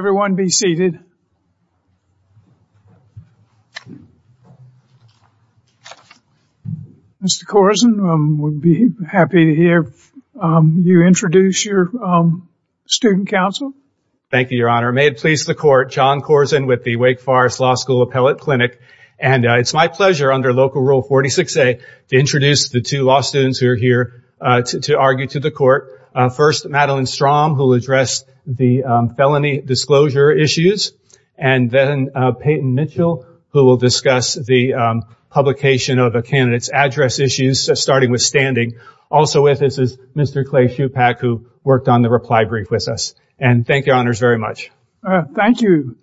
May everyone be seated. Mr. Corzine, we'd be happy to hear you introduce your student counsel. Thank you, Your Honor. May it please the Court, John Corzine with the Wake Forest Law School Appellate Clinic. And it's my pleasure, under Local Rule 46A, to introduce the two law students who are here to argue to the Court. First, Madeleine Strom, who will address the felony disclosure issues. And then Peyton Mitchell, who will discuss the publication of a candidate's address issues, starting with standing. Also with us is Mr. Clay Shupak, who worked on the reply brief with us. And thank you, Your Honors, very much. Thank you.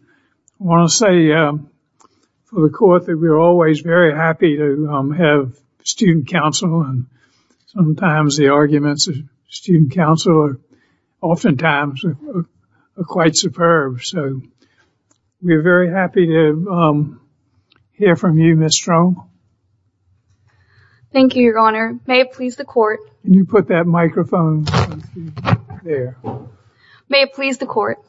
I want to say for the Court that we're always very happy to have student counsel, and sometimes the arguments of student counsel are oftentimes quite superb. So we're very happy to hear from you, Ms. Strom. Thank you, Your Honor. May it please the Court. Can you put that microphone there? May it please the Court.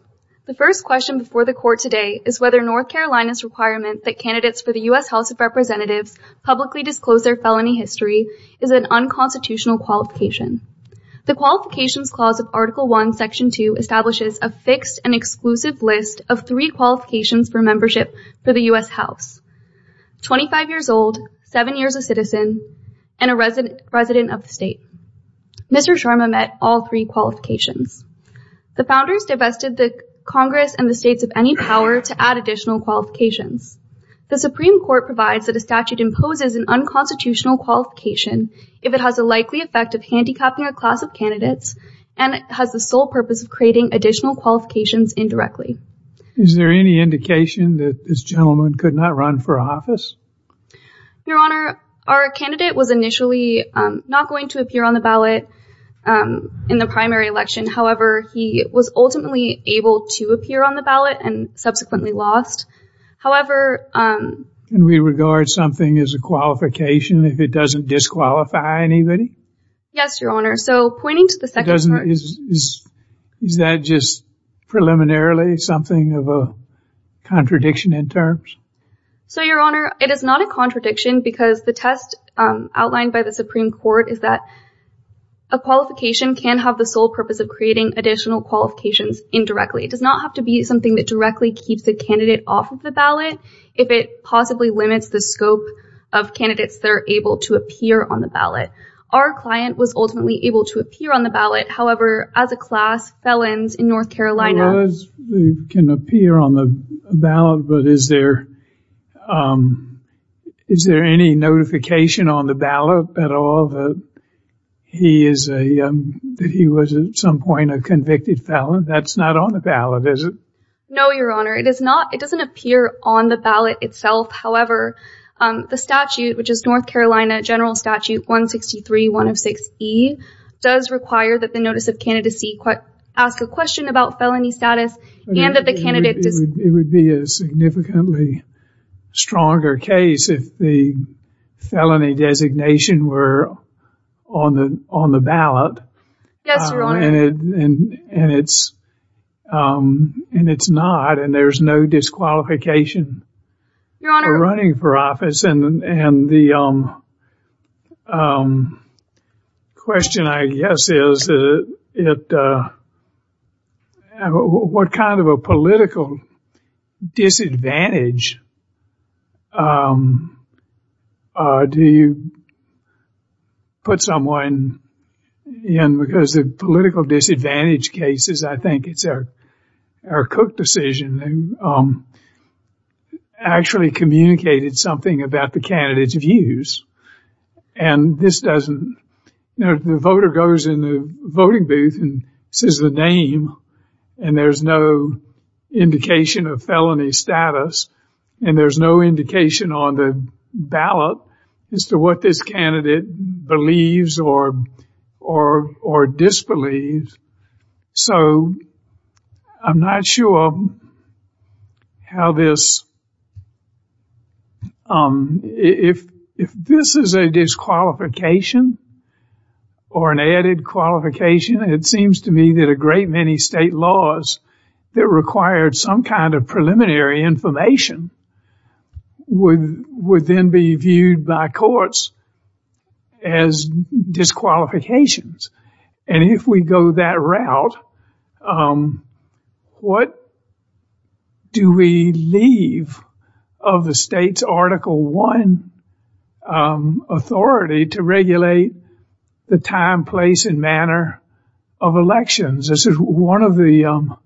The first question before the Court today is whether North Carolina's requirement that candidates for the U.S. House of Representatives publicly disclose their felony history is an unconstitutional qualification. The Qualifications Clause of Article I, Section 2, establishes a fixed and exclusive list of three qualifications for membership for the U.S. House, 25 years old, seven years a citizen, and a resident of the state. Mr. Sharma met all three qualifications. The Founders divested the Congress and the states of any power to add additional qualifications. The Supreme Court provides that a statute imposes an unconstitutional qualification if it has a likely effect of handicapping a class of candidates and has the sole purpose of creating additional qualifications indirectly. Is there any indication that this gentleman could not run for office? Your Honor, our candidate was initially not going to appear on the ballot in the primary election. However, he was ultimately able to appear on the ballot and subsequently lost. However... Can we regard something as a qualification if it doesn't disqualify anybody? Yes, Your Honor. So pointing to the second part... Is that just preliminarily something of a contradiction in terms? So Your Honor, it is not a contradiction because the test outlined by the Supreme Court is that a qualification can have the sole purpose of creating additional qualifications indirectly. It does not have to be something that directly keeps the candidate off of the ballot if it possibly limits the scope of candidates that are able to appear on the ballot. Our client was ultimately able to appear on the ballot. However, as a class, felons in North Carolina... Felons can appear on the ballot, but is there any notification on the ballot at all that he was at some point a convicted felon? That's not on the ballot, is it? No, Your Honor. It is not. It doesn't appear on the ballot itself. However, the statute, which is North Carolina General Statute 163-106-E, does require that the notice of candidacy ask a question about felony status and that the candidate... It would be a significantly stronger case if the felony designation were on the ballot. Yes, Your Honor. And it's not, and there's no disqualification for running for office. And the question, I guess, is what kind of a political disadvantage do you put someone in because the political disadvantage cases, I think it's Eric Cook decision, actually communicated something about the candidate's views. And the voter goes in the voting booth and says the name, and there's no indication of felony status, and there's no indication on the ballot as to what this candidate believes or disbelieves. So I'm not sure how this... If this is a disqualification or an added qualification, it seems to me that a great many state laws that required some kind of preliminary information would then be viewed by courts as disqualifications. And if we go that route, what do we leave of the state's Article I authority to regulate the time, place, and manner of elections? This is one of the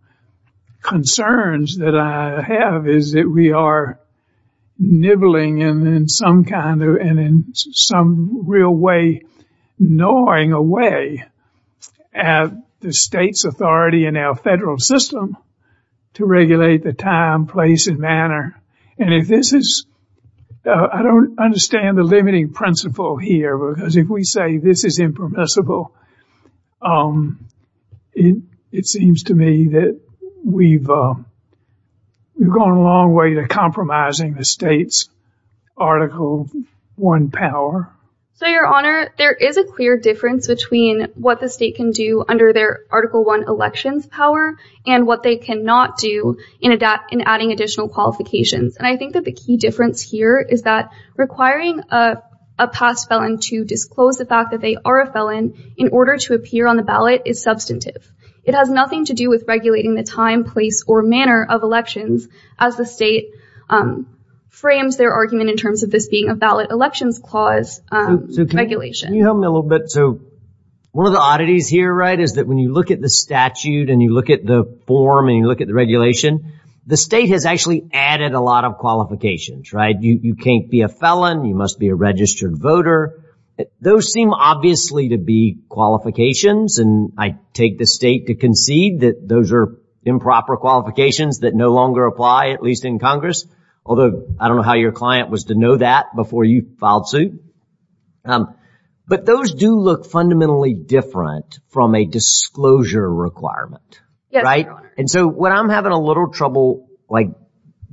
concerns that I have, is that we are nibbling and in some kind of, and in some real way, gnawing away at the state's authority in our federal system to regulate the time, place, and manner. And if this is... I don't understand the limiting principle here because if we say this is impermissible, it seems to me that we've gone a long way to compromising the state's Article I power. So, Your Honor, there is a clear difference between what the state can do under their Article I elections power and what they cannot do in adding additional qualifications. And I think that the key difference here is that requiring a past felon to disclose the fact that they are a felon in order to appear on the ballot is substantive. It has nothing to do with regulating the time, place, or manner of elections as the state frames their argument in terms of this being a ballot elections clause regulation. So can you help me a little bit? So one of the oddities here, right, is that when you look at the statute and you look at the form and you look at the regulation, the state has actually added a lot of qualifications, right? You can't be a felon. You must be a registered voter. Those seem obviously to be qualifications, and I take the state to concede that those are improper qualifications that no longer apply, at least in Congress, although I don't know how your client was to know that before you filed suit. But those do look fundamentally different from a disclosure requirement, right? And so what I'm having a little trouble, like,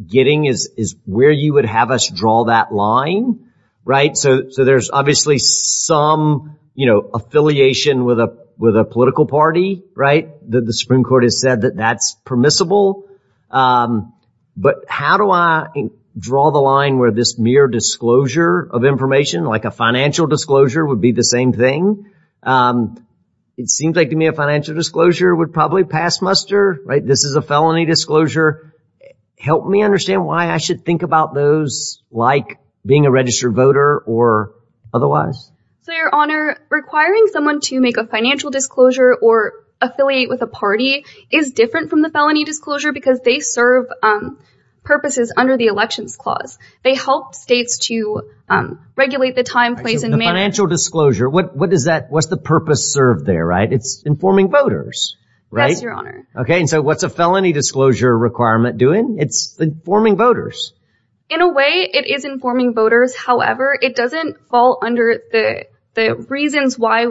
getting is where you would have us draw that line, right? So there's obviously some, you know, affiliation with a political party, right, that the Supreme Court has said that that's permissible, but how do I draw the line where this mere disclosure of information, like a financial disclosure, would be the same thing? It seems like to me a financial disclosure would probably pass muster, right? This is a felony disclosure. Help me understand why I should think about those like being a registered voter or otherwise. So, Your Honor, requiring someone to make a financial disclosure or affiliate with a party is different from the felony disclosure because they serve purposes under the Elections Clause. They help states to regulate the time, place, and manner. Financial disclosure, what does that, what's the purpose served there, right? It's informing voters, right? Okay, and so what's a felony disclosure requirement doing? It's informing voters. In a way, it is informing voters. However, it doesn't fall under the reasons why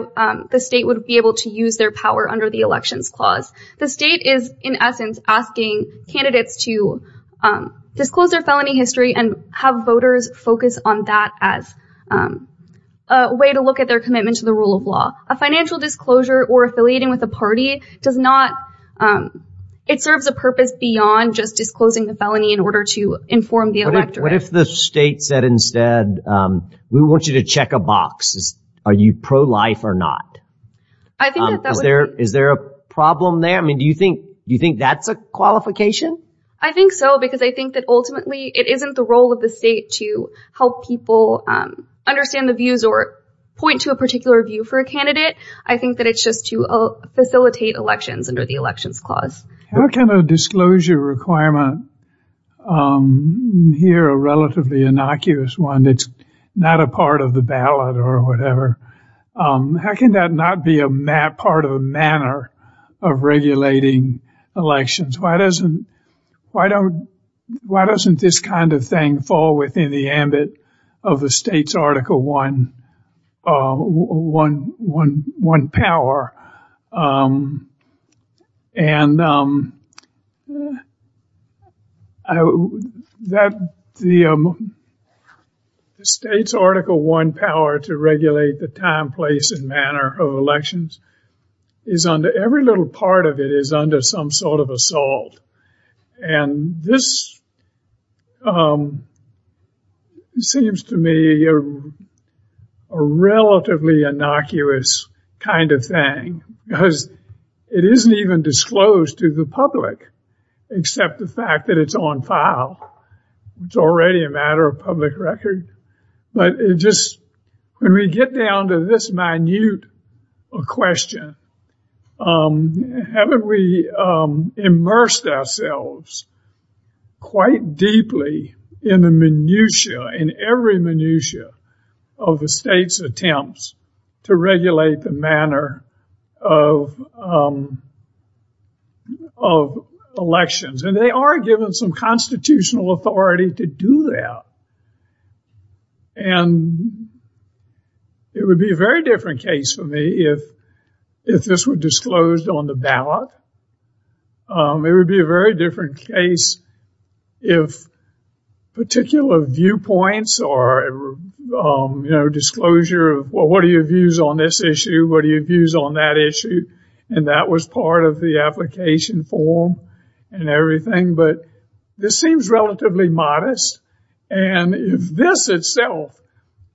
the state would be able to use their power under the Elections Clause. The state is, in essence, asking candidates to disclose their felony history and have voters focus on that as a way to look at their commitment to the rule of law. A financial disclosure or affiliating with a party does not, it serves a purpose beyond just disclosing the felony in order to inform the electorate. What if the state said instead, we want you to check a box, are you pro-life or not? Is there a problem there? I mean, do you think that's a qualification? I think so because I think that ultimately it isn't the role of the state to help people understand the views or point to a particular view for a candidate. I think that it's just to facilitate elections under the Elections Clause. How can a disclosure requirement, here a relatively innocuous one that's not a part of the ballot or whatever, how can that not be a part of a manner of regulating elections? Why doesn't this kind of thing fall within the ambit of a state's Article I power? And the state's Article I power to regulate the time, place, and manner of elections is every little part of it is under some sort of assault. And this seems to me a relatively innocuous kind of thing because it isn't even disclosed to the public except the fact that it's on file. It's already a matter of public record. But it just, when we get down to this minute question, haven't we immersed ourselves quite deeply in the minutiae, in every minutiae of the state's attempts to regulate the manner of elections? And they are given some constitutional authority to do that. And it would be a very different case for me if this were disclosed on the ballot. It would be a very different case if particular viewpoints or, you know, disclosure of, well, what are your views on this issue? What are your views on that issue? And that was part of the application form and everything. But this seems relatively modest. And if this itself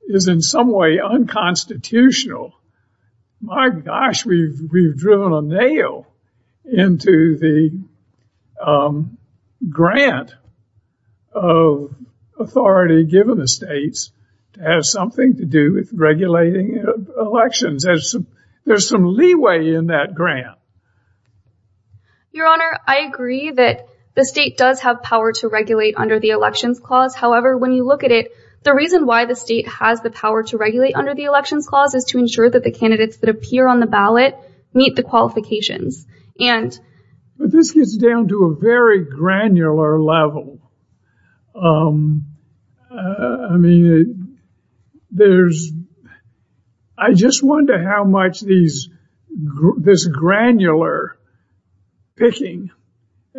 is in some way unconstitutional, my gosh, we've driven a nail into the grant of authority given the states to have something to do with regulating elections. There's some leeway in that grant. Your Honor, I agree that the state does have power to regulate under the Elections Clause. However, when you look at it, the reason why the state has the power to regulate under the Elections Clause is to ensure that the candidates that appear on the ballot meet the qualifications. And... But this gets down to a very granular level. I mean, I just wonder how much this granular picking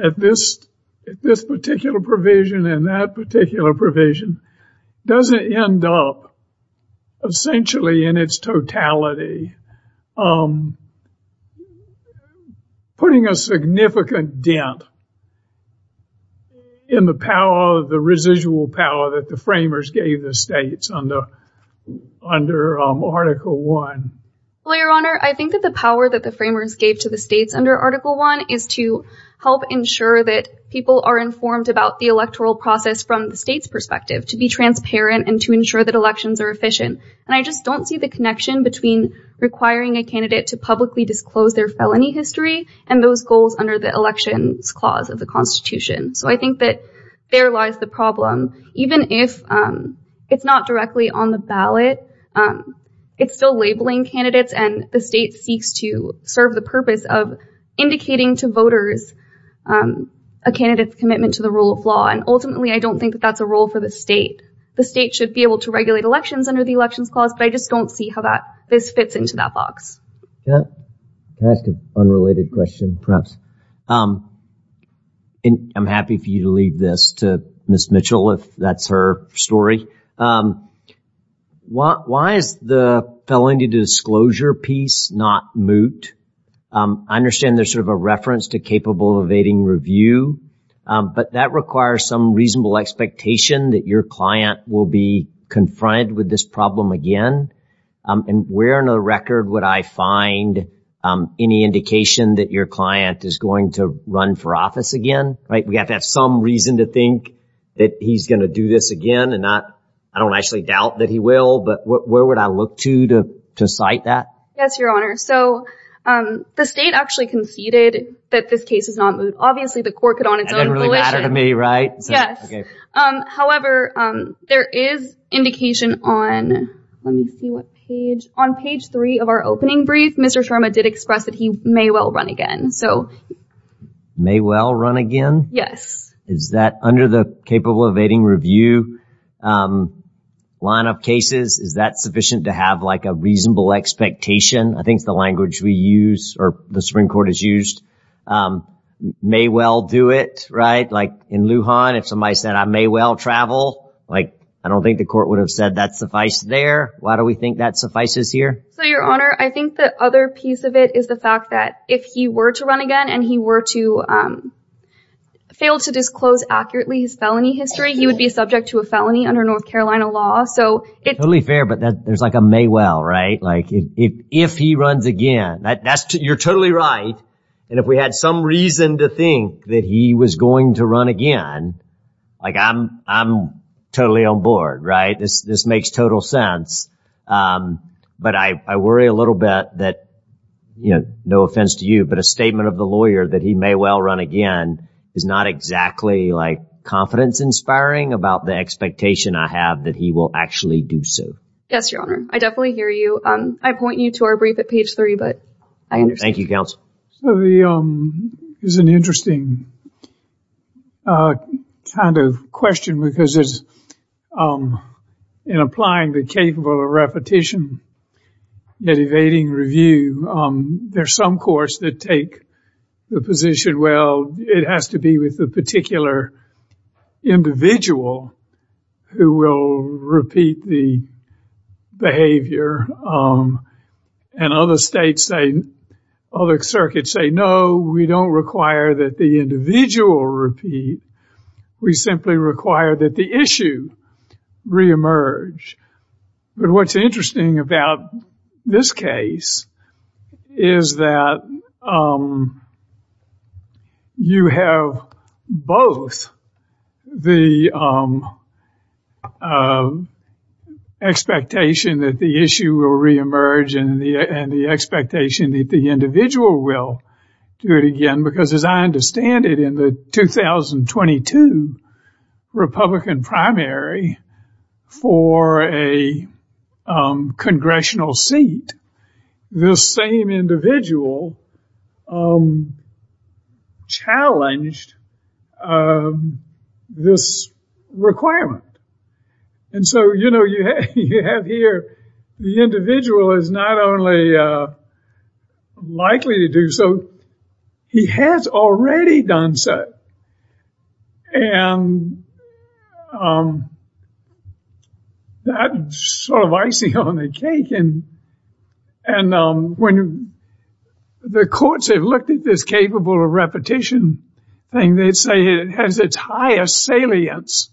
at this particular provision and that particular provision doesn't end up essentially in its totality, putting a significant dent in the power, the residual power that the framers gave the states under Article I. Well, Your Honor, I think that the power that the framers gave to the states under Article I is to help ensure that people are informed about the electoral process from the state's perspective, to be transparent and to ensure that elections are efficient. And I just don't see the connection between requiring a candidate to publicly disclose their felony history and those goals under the Elections Clause of the Constitution. So I think that there lies the problem. Even if it's not directly on the ballot, it's still labeling candidates. And the state seeks to serve the purpose of indicating to voters a candidate's commitment to the rule of law. And ultimately, I don't think that that's a role for the state. The state should be able to regulate elections under the Elections Clause, but I just don't see how this fits into that box. Can I ask an unrelated question, perhaps? I'm happy for you to leave this to Ms. Mitchell, if that's her story. Why is the felony disclosure piece not moot? I understand there's sort of a reference to capable of evading review, but that requires some reasonable expectation that your client will be confronted with this problem again. And where on the record would I find any indication that your client is going to run for office again, right? We have to have some reason to think that he's going to do this again and not, I don't actually doubt that he will, but where would I look to to cite that? Yes, Your Honor. So the state actually conceded that this case is not moot. Obviously, the court could on its own... That didn't really matter to me, right? Yes. However, there is indication on, let me see what page, on page three of our opening brief, Mr. Sharma did express that he may well run again. So... May well run again? Yes. Is that under the capable of evading review line of cases, is that sufficient to have like a reasonable expectation? I think it's the language we use or the Supreme Court has used. May well do it, right? In Lujan, if somebody said, I may well travel, I don't think the court would have said that suffice there. Why do we think that suffices here? So, Your Honor, I think the other piece of it is the fact that if he were to run again and he were to fail to disclose accurately his felony history, he would be subject to a felony under North Carolina law. Totally fair, but there's like a may well, right? If he runs again, you're totally right. And if we had some reason to think that he was going to run again, like I'm, I'm totally on board, right? This, this makes total sense. But I, I worry a little bit that, you know, no offense to you, but a statement of the lawyer that he may well run again is not exactly like confidence inspiring about the expectation I have that he will actually do so. Yes, Your Honor. I definitely hear you. I point you to our brief at page three, but I understand. So the, is an interesting kind of question because it's, in applying the capable of repetition, yet evading review, there's some courts that take the position, well, it has to be with the particular individual who will repeat the behavior. And other states say, other circuits say, no, we don't require that the individual repeat. We simply require that the issue reemerge. But what's interesting about this case is that you have both the expectation that the issue will reemerge and the expectation that the individual will do it again. Because as I understand it, in the 2022 Republican primary for a congressional seat, this same individual challenged this requirement. And so, you know, you have here, the individual is not only likely to do so, he has already done so. And that's sort of icing on the cake. And when the courts have looked at this capable of repetition thing, they say it has its highest salience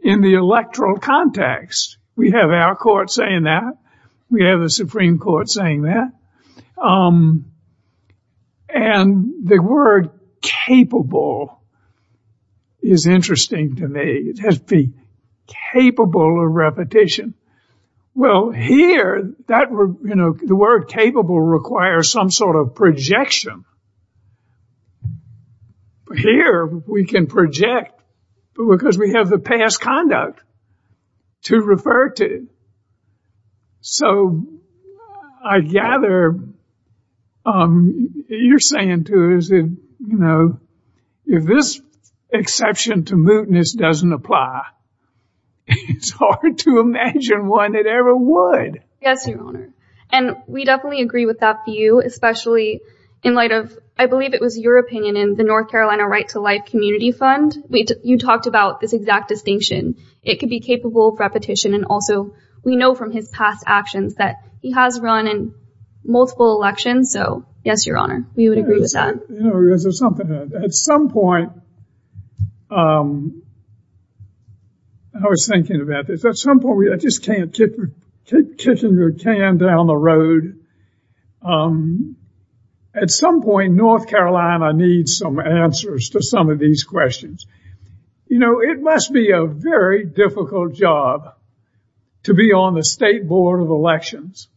in the electoral context. We have our court saying that. We have the Supreme Court saying that. And the word capable is interesting to me. It has to be capable of repetition. Well, here, you know, the word capable requires some sort of projection. Here, we can project because we have the past conduct to refer to. And so I gather you're saying to us, you know, if this exception to mootness doesn't apply, it's hard to imagine one that ever would. Yes, Your Honor. And we definitely agree with that view, especially in light of, I believe it was your opinion in the North Carolina Right to Life Community Fund. You talked about this exact distinction. It could be capable of repetition. And also, we know from his past actions that he has run in multiple elections. So, yes, Your Honor. We would agree with that. At some point, I was thinking about this. At some point, I just can't keep kicking your can down the road. At some point, North Carolina needs some answers to some of these questions. You know, it must be a very difficult job to be on the state board of elections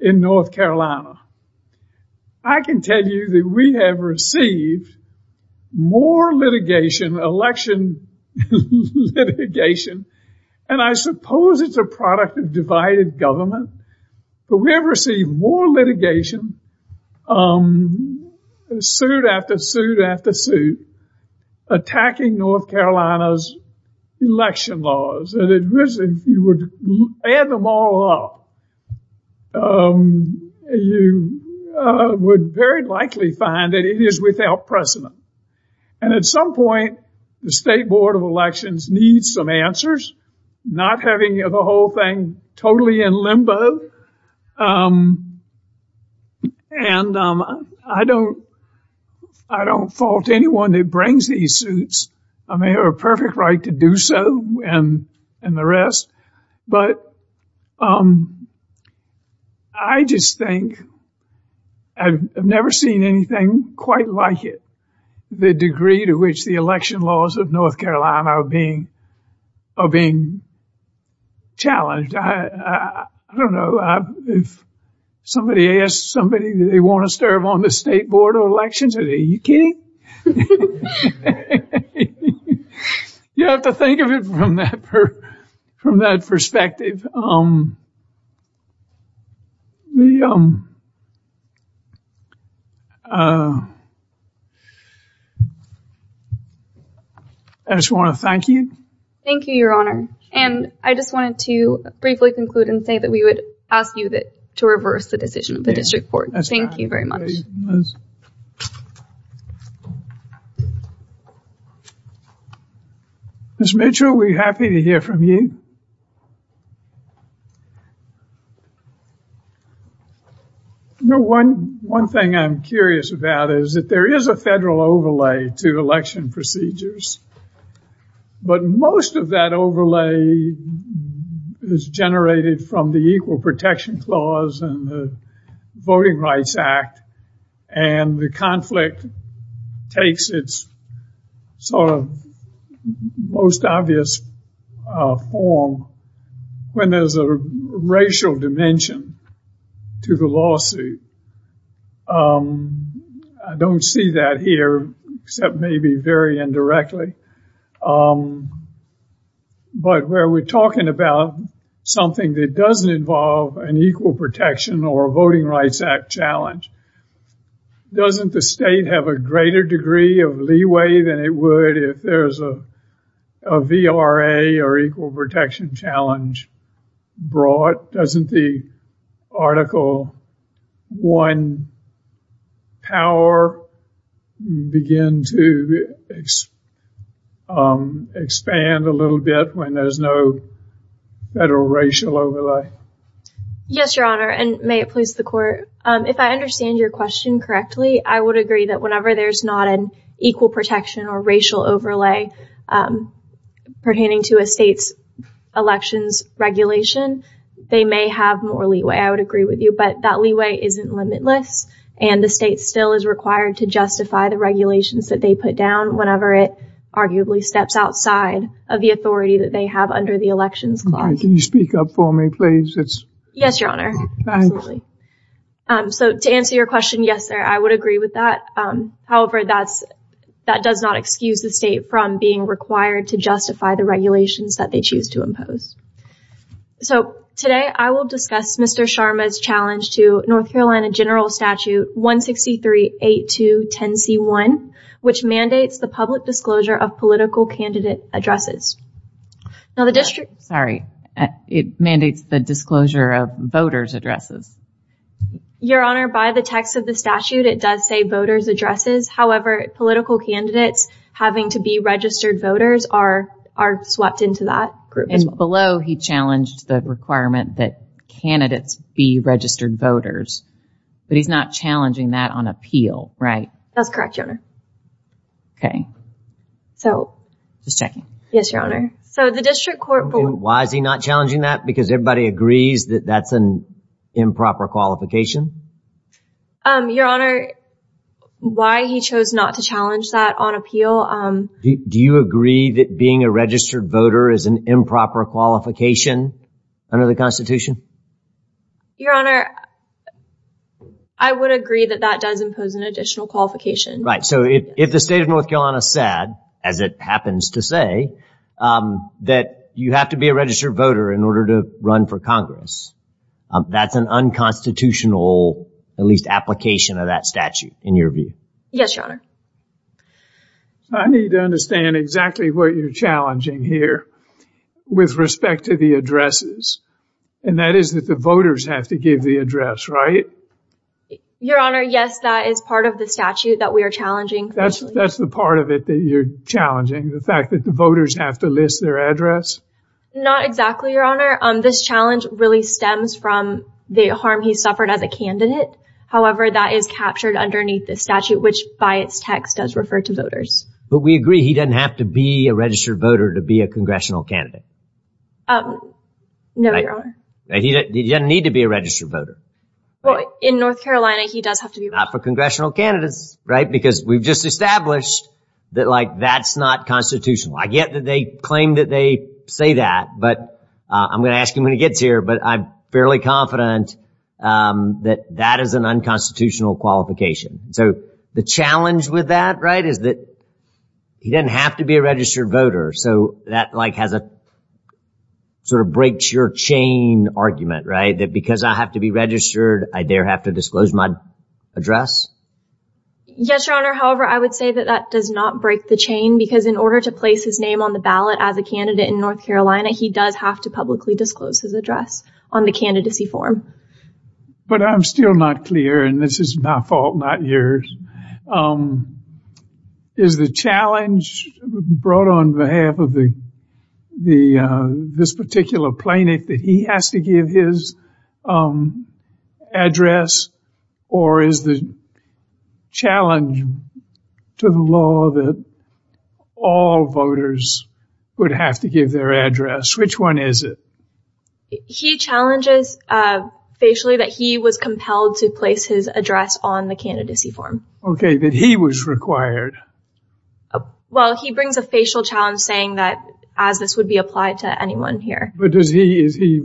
in North Carolina. I can tell you that we have received more litigation, election litigation, and I suppose it's a product of divided government. But we have received more litigation, suit after suit after suit, attacking North Carolina's election laws. And if you would add them all up, you would very likely find that it is without precedent. And at some point, the state board of elections needs some answers, not having the whole thing totally in limbo. And I don't fault anyone that brings these suits. I mean, they have a perfect right to do so and the rest. But I just think I've never seen anything quite like it, the degree to which the election laws of North Carolina are being challenged. I don't know, if somebody asks somebody, do they want to serve on the state board of elections, are they kidding? You have to think of it from that perspective. I just want to thank you. Thank you, your honor. And I just wanted to briefly conclude and say that we would ask you to reverse the decision of the district court. Thank you very much. Ms. Mitchell, we're happy to hear from you. One thing I'm curious about is that there is a federal overlay to election procedures. But most of that overlay is generated from the Equal Protection Clause and the Voting Rights Act. And the conflict takes its sort of most obvious form when there's a racial dimension to the lawsuit. I don't see that here, except maybe very indirectly. But where we're talking about something that doesn't involve an Equal Protection or Voting Rights Act challenge, doesn't the state have a greater degree of leeway than it would if there's a VRA or Equal Protection challenge brought? Doesn't the Article I power begin to expand a little bit when there's no federal racial overlay? Yes, your honor. And may it please the court, if I understand your question correctly, I would agree that whenever there's not an Equal Protection or racial overlay pertaining to a state's elections regulation, they may have more leeway. I would agree with you. But that leeway isn't limitless. And the state still is required to justify the regulations that they put down whenever it arguably steps outside of the authority that they have under the Elections Clause. Can you speak up for me, please? Yes, your honor. So to answer your question, yes, sir. I would agree with that. However, that does not excuse the state from being required to justify the regulations that they choose to impose. So today I will discuss Mr. Sharma's challenge to North Carolina General Statute 1638210C1, which mandates the public disclosure of political candidate addresses. Now the district... Sorry, it mandates the disclosure of voters addresses. Your honor, by the text of the statute, it does say voters addresses. However, political candidates having to be registered voters are swept into that group. Below, he challenged the requirement that candidates be registered voters, but he's not challenging that on appeal, right? That's correct, your honor. Okay. So... Just checking. Yes, your honor. So the district court... Why is he not challenging that? Because everybody agrees that that's an improper qualification? Your honor, why he chose not to challenge that on appeal... Do you agree that being a registered voter is an improper qualification under the constitution? Your honor, I would agree that that does impose an additional qualification. Right. So if the state of North Carolina said, as it happens to say, that you have to be a registered voter in order to run for Congress, that's an unconstitutional, at least application of that statute, in your view? Yes, your honor. So I need to understand exactly what you're challenging here with respect to the addresses. And that is that the voters have to give the address, right? Your honor, yes, that is part of the statute that we are challenging. That's the part of it that you're challenging, the fact that the voters have to list their address? Not exactly, your honor. This challenge really stems from the harm he suffered as a candidate. However, that is captured underneath the statute, which by its text does refer to voters. But we agree he doesn't have to be a registered voter to be a congressional candidate. No, your honor. He doesn't need to be a registered voter. Well, in North Carolina, he does have to be... Not for congressional candidates, right? Because we've just established that, like, that's not constitutional. I get that they claim that they say that, but I'm going to ask him when he gets here. But I'm fairly confident that that is an unconstitutional qualification. So the challenge with that, right, is that he doesn't have to be a registered voter. So that, like, has a sort of breaks your chain argument, right? That because I have to be registered, I there have to disclose my address? Yes, your honor. However, I would say that that does not break the chain, because in order to place his name on the ballot as a candidate in North Carolina, he does have to publicly disclose his address on the candidacy form. But I'm still not clear, and this is my fault, not yours. Is the challenge brought on behalf of this particular plaintiff that he has to give his address, or is the challenge to the law that all voters would have to give their address? Which one is it? He challenges facially that he was compelled to place his address on the candidacy form. Okay, that he was required. Well, he brings a facial challenge saying that as this would be applied to anyone here. But is he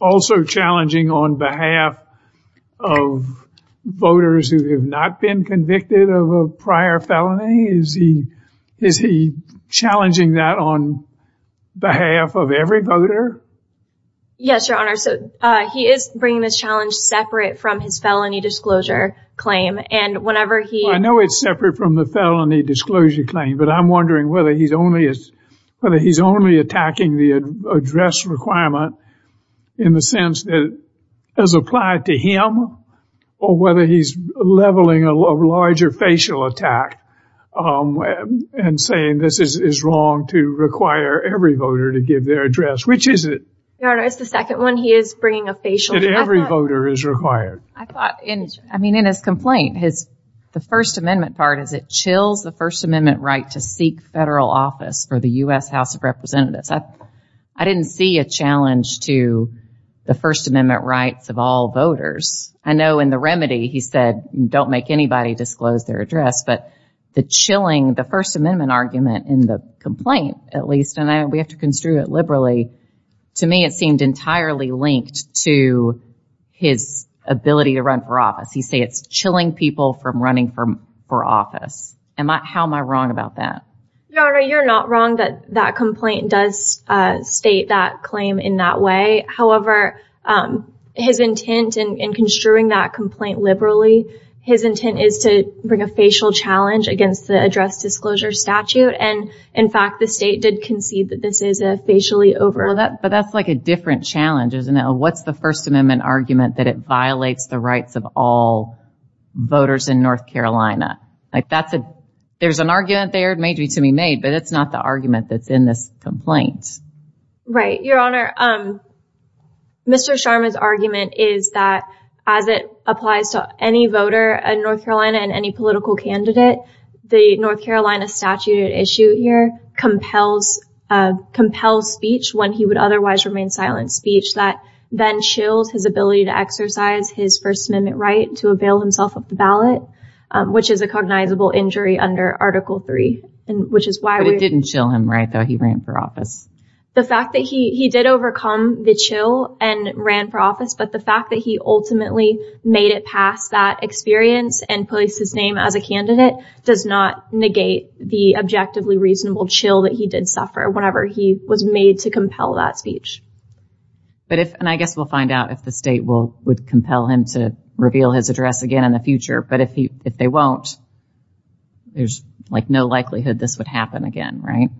also challenging on behalf of voters who have not been convicted of a prior felony? Is he challenging that on behalf of every voter? Yes, your honor. So he is bringing this challenge separate from his felony disclosure claim. And whenever he... I know it's separate from the felony disclosure claim, but I'm wondering whether he's only attacking the address requirement in the sense that it has applied to him, or whether he's leveling a larger facial attack and saying this is wrong to require every voter to give their address. Which is it? Your honor, it's the second one. He is bringing a facial... That every voter is required. I thought in his complaint, the First Amendment part is it chills the First Amendment right to seek federal office for the U.S. House of Representatives. I didn't see a challenge to the First Amendment rights of all voters. I know in the remedy, he said, don't make anybody disclose their address. But the chilling, the First Amendment argument in the complaint, at least, and we have to construe it liberally. To me, it seemed entirely linked to his ability to run for office. He say it's chilling people from running for office. How am I wrong about that? Your honor, you're not wrong that that complaint does state that claim in that way. However, his intent in construing that complaint liberally, his intent is to bring a facial challenge against the address disclosure statute. And in fact, the state did concede that this is a facially over... But that's like a different challenge, isn't it? What's the First Amendment argument that it violates the rights of all voters in North Carolina? Like that's a, there's an argument there, it may be to be made, but it's not the argument that's in this complaint. Right. Your honor, Mr. Sharma's argument is that as it applies to any voter in North Carolina and any political candidate, the North Carolina statute at issue here compels speech when he would otherwise remain silent speech that then chills his ability to exercise his First Amendment right to avail himself of the ballot, which is a cognizable injury under Article 3, which is why... But it didn't chill him right though, he ran for office. The fact that he did overcome the chill and ran for office, but the fact that he ultimately made it past that experience and placed his name as a candidate does not negate the objectively reasonable chill that he did suffer whenever he was made to compel that speech. But if, and I guess we'll find out if the state will, would compel him to reveal his address again in the future, but if he, if they won't, there's like no likelihood this would happen again, right?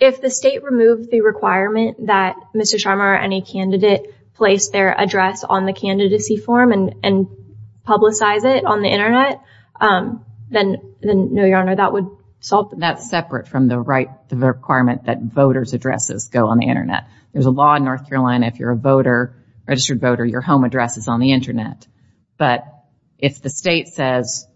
If the state removed the requirement that Mr. Sharma or any candidate place their address on the candidacy form and, and publicize it on the internet, then, then no, your honor, that would solve... That's separate from the right requirement that voters addresses go on the internet. There's a law in North Carolina, if you're a voter, registered voter, your home address is on the internet. But if the state says,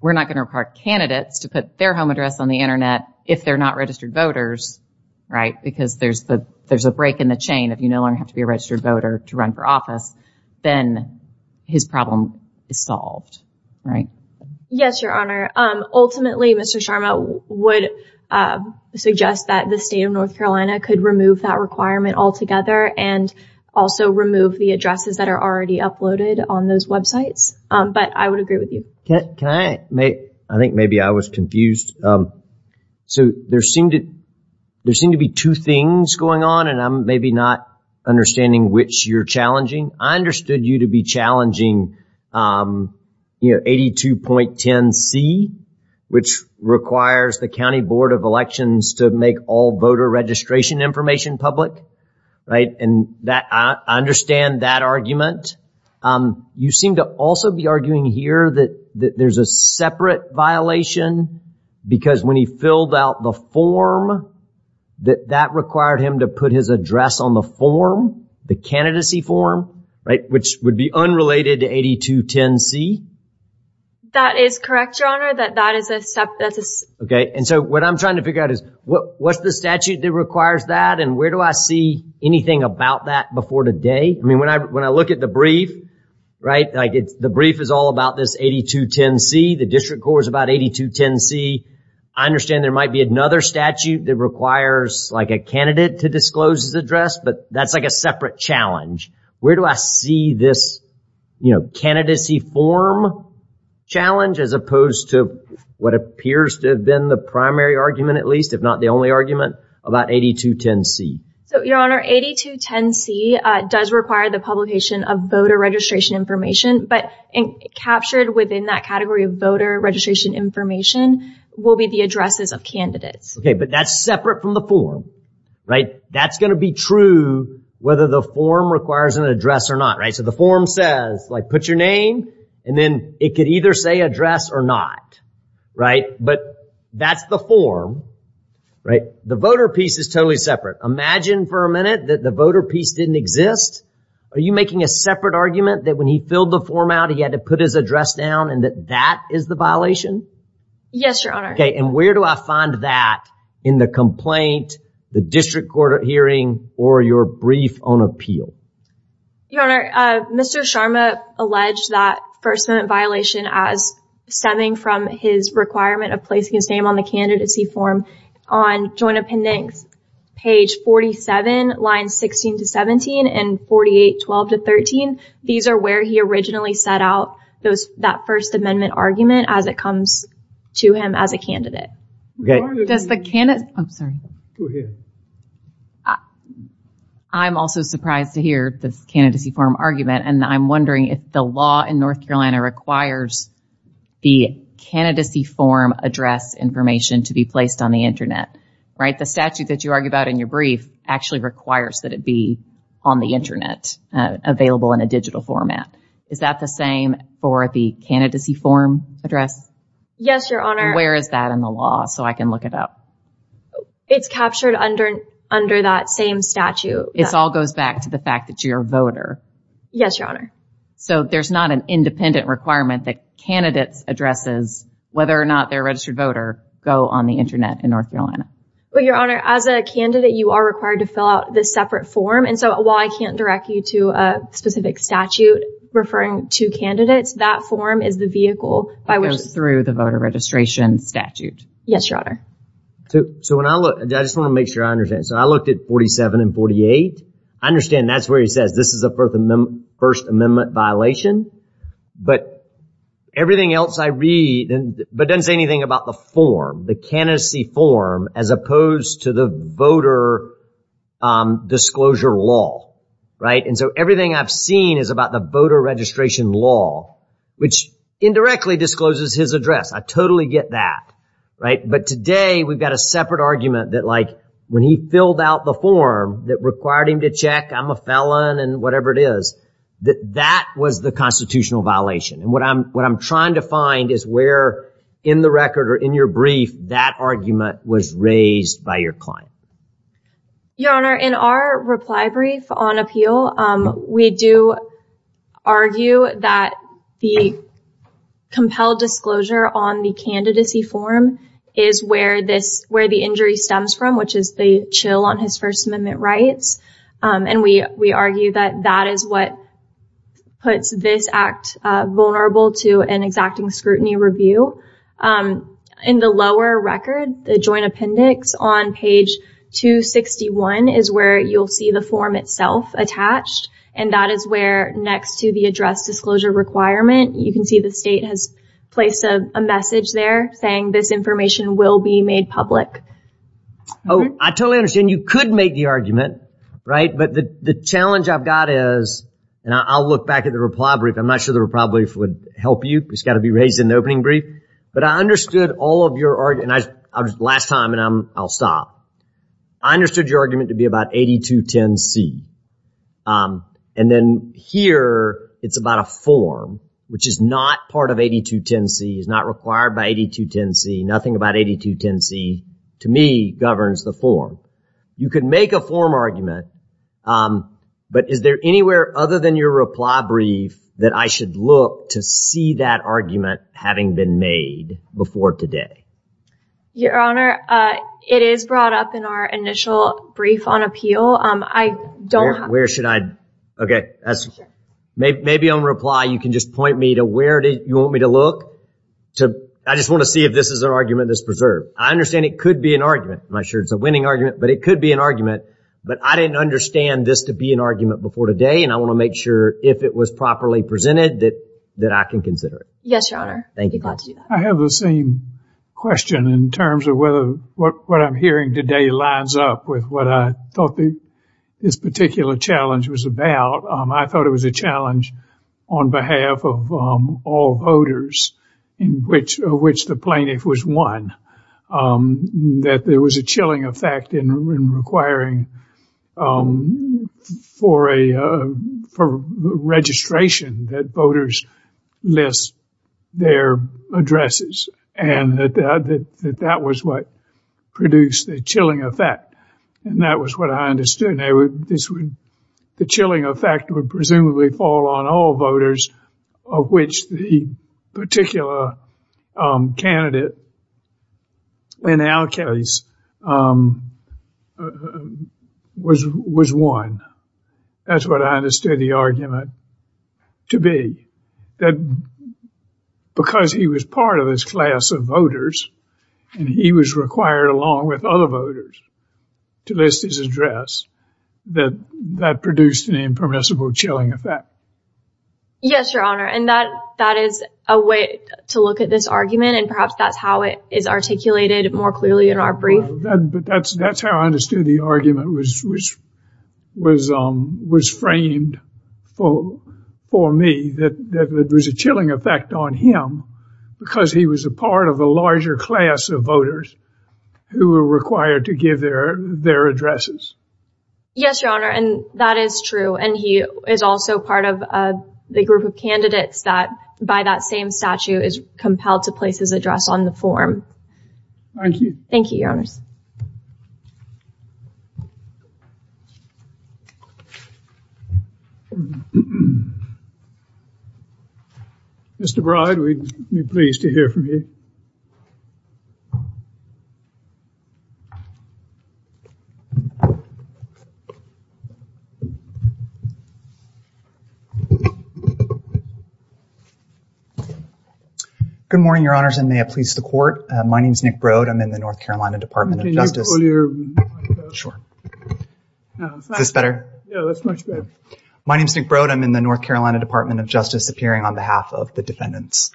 we're not going to require candidates to put their home address on the internet if they're not registered voters, right? Because there's the, there's a break in the chain. If you no longer have to be a registered voter to run for office, then his problem is solved, right? Yes, your honor. Ultimately, Mr. Sharma would suggest that the state of North Carolina could remove that requirement altogether and also remove the addresses that are already uploaded on those websites. But I would agree with you. Can I make, I think maybe I was confused. So there seemed to, there seemed to be two things going on and I'm maybe not understanding which you're challenging. I understood you to be challenging, you know, 82.10C, which requires the County Board of Elections to make all voter registration information public, right? And that, I understand that argument. You seem to also be arguing here that there's a separate violation because when he filled out the form, that that required him to put his address on the form, the candidacy form, right? Which would be unrelated to 82.10C. That is correct, your honor, that that is a step that's a- Okay. And so what I'm trying to figure out is what, what's the statute that requires that? And where do I see anything about that before today? I mean, when I, when I look at the brief, right? Like it's, the brief is all about this 82.10C. The district court is about 82.10C. I understand there might be another statute that requires like a candidate to disclose his address, but that's like a separate challenge. Where do I see this, you know, candidacy form challenge as opposed to what appears to have been the primary argument, at least, if not the only argument about 82.10C? So your honor, 82.10C does require the publication of voter registration information, but captured within that category of voter registration information will be the addresses of candidates. Okay, but that's separate from the form, right? That's going to be true whether the form requires an address or not, right? So the form says like put your name and then it could either say address or not, right? But that's the form, right? The voter piece is totally separate. Imagine for a minute that the voter piece didn't exist. Are you making a separate argument that when he filled the form out, he had to put his address down and that that is the violation? Yes, your honor. Okay, and where do I find that in the complaint, the district court hearing, or your brief on appeal? Your honor, Mr. Sharma alleged that first amendment violation as stemming from his requirement of placing his name on the candidacy form on joint appendix, page 47, lines 16 to 17 and 48, 12 to 13. These are where he originally set out those, that first amendment argument as it comes to him as a candidate. Does the candidate, I'm sorry. I'm also surprised to hear this candidacy form argument. And I'm wondering if the law in North Carolina requires the candidacy form address information to be placed on the internet, right? The statute that you argue about in your brief actually requires that it be on the internet available in a digital format. Is that the same for the candidacy form address? Yes, your honor. Where is that in the law so I can look it up? It's captured under that same statute. It all goes back to the fact that you're a voter. Yes, your honor. So there's not an independent requirement that candidates addresses whether or not they're a registered voter go on the internet in North Carolina. Well, your honor, as a candidate, you are required to fill out this separate form. And so while I can't direct you to a specific statute referring to candidates, that form is the vehicle by which it goes through the voter registration statute. Yes, your honor. So when I look, I just want to make sure I understand. So I looked at 47 and 48. I understand that's where he says this is a First Amendment violation. But everything else I read, but doesn't say anything about the form, the candidacy form, as opposed to the voter disclosure law, right? And so everything I've seen is about the voter registration law, which indirectly discloses his address. I totally get that, right? But today we've got a separate argument that like when he filled out the form that required him to check, I'm a felon and whatever it is, that was the constitutional violation. And what I'm trying to find is where in the record or in your brief, that argument was raised by your client. Your honor, in our reply brief on appeal, we do argue that the compelled disclosure on the candidacy form is where the injury stems from, which is the chill on his First Amendment rights. And we argue that that is what puts this act vulnerable to an exacting scrutiny review. In the lower record, the joint appendix on page 261 is where you'll see the form itself attached. And that is where next to the address disclosure requirement, you can see the state has placed a message there saying this information will be made public. Oh, I totally understand. You could make the argument, right? But the challenge I've got is, and I'll look back at the reply brief. I'm not sure the reply brief would help you. It's got to be raised in the opening brief. But I understood all of your argument, last time and I'll stop. I understood your argument to be about 8210C. And then here, it's about a form, which is not part of 8210C, is not required by 8210C. Nothing about 8210C, to me, governs the form. You could make a form argument. But is there anywhere other than your reply brief that I should look to see that argument having been made before today? Your honor, it is brought up in our initial brief on appeal. I don't have... Where should I... Okay, maybe on reply, you can just point me to where you want me to look. I just want to see if this is an argument that's preserved. I understand it could be an argument. I'm not sure it's a winning argument, but it could be an argument. But I didn't understand this to be an argument before today. And I want to make sure if it was properly presented that I can consider it. Yes, your honor. Thank you. I have the same question in terms of whether what I'm hearing today lines up with what I thought this particular challenge was about. I thought it was a challenge on behalf of all voters, in which the plaintiff was one. That there was a chilling effect in requiring for registration that voters list their addresses. And that that was what produced the chilling effect. And that was what I understood. And the chilling effect would presumably fall on all voters, of which the particular candidate in our case was one. That's what I understood the argument to be. That because he was part of this class of voters, and he was required along with other voters to list his address, that that produced an impermissible chilling effect. Yes, your honor. And that is a way to look at this argument. And perhaps that's how it is articulated more clearly in our brief. But that's how I understood the argument was framed for me. That there was a chilling effect on him, because he was a part of a larger class of voters who were required to give their addresses. Yes, your honor. And that is true. And he is also part of the group of candidates that, by that same statute, is compelled to place his address on the form. Thank you. Thank you, your honors. Mr. Bride, we'd be pleased to hear from you. Good morning, your honors. And may it please the court. My name is Nick Broad. I'm in the North Carolina Department of Justice. Can you pull your mic up? Sure. Is this better? Yeah, that's much better. My name is Nick Broad. I'm in the North Carolina Department of Justice, appearing on behalf of the defendants.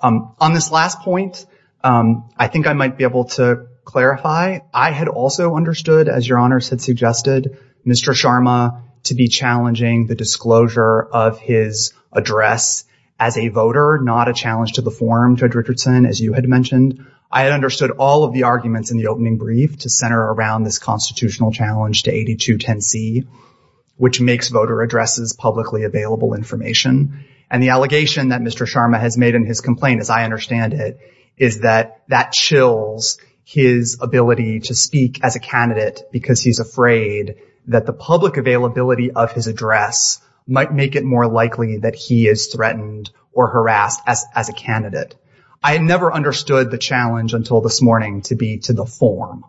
On this last point, I think I might be able to clarify. I had also understood, as your honors had suggested, Mr. Sharma to be challenging the disclosure of his address as a voter, not a challenge to the form, Judge Richardson, as you had mentioned. I understood all of the arguments in the opening brief to center around this constitutional challenge to 8210C, which makes voter addresses publicly available information. And the allegation that Mr. Sharma has made in his complaint, as I understand it, is that that chills his ability to speak as a candidate because he's afraid that the public availability of his address might make it more likely that he is threatened or harassed as a candidate. I had never understood the challenge until this morning to be to the form.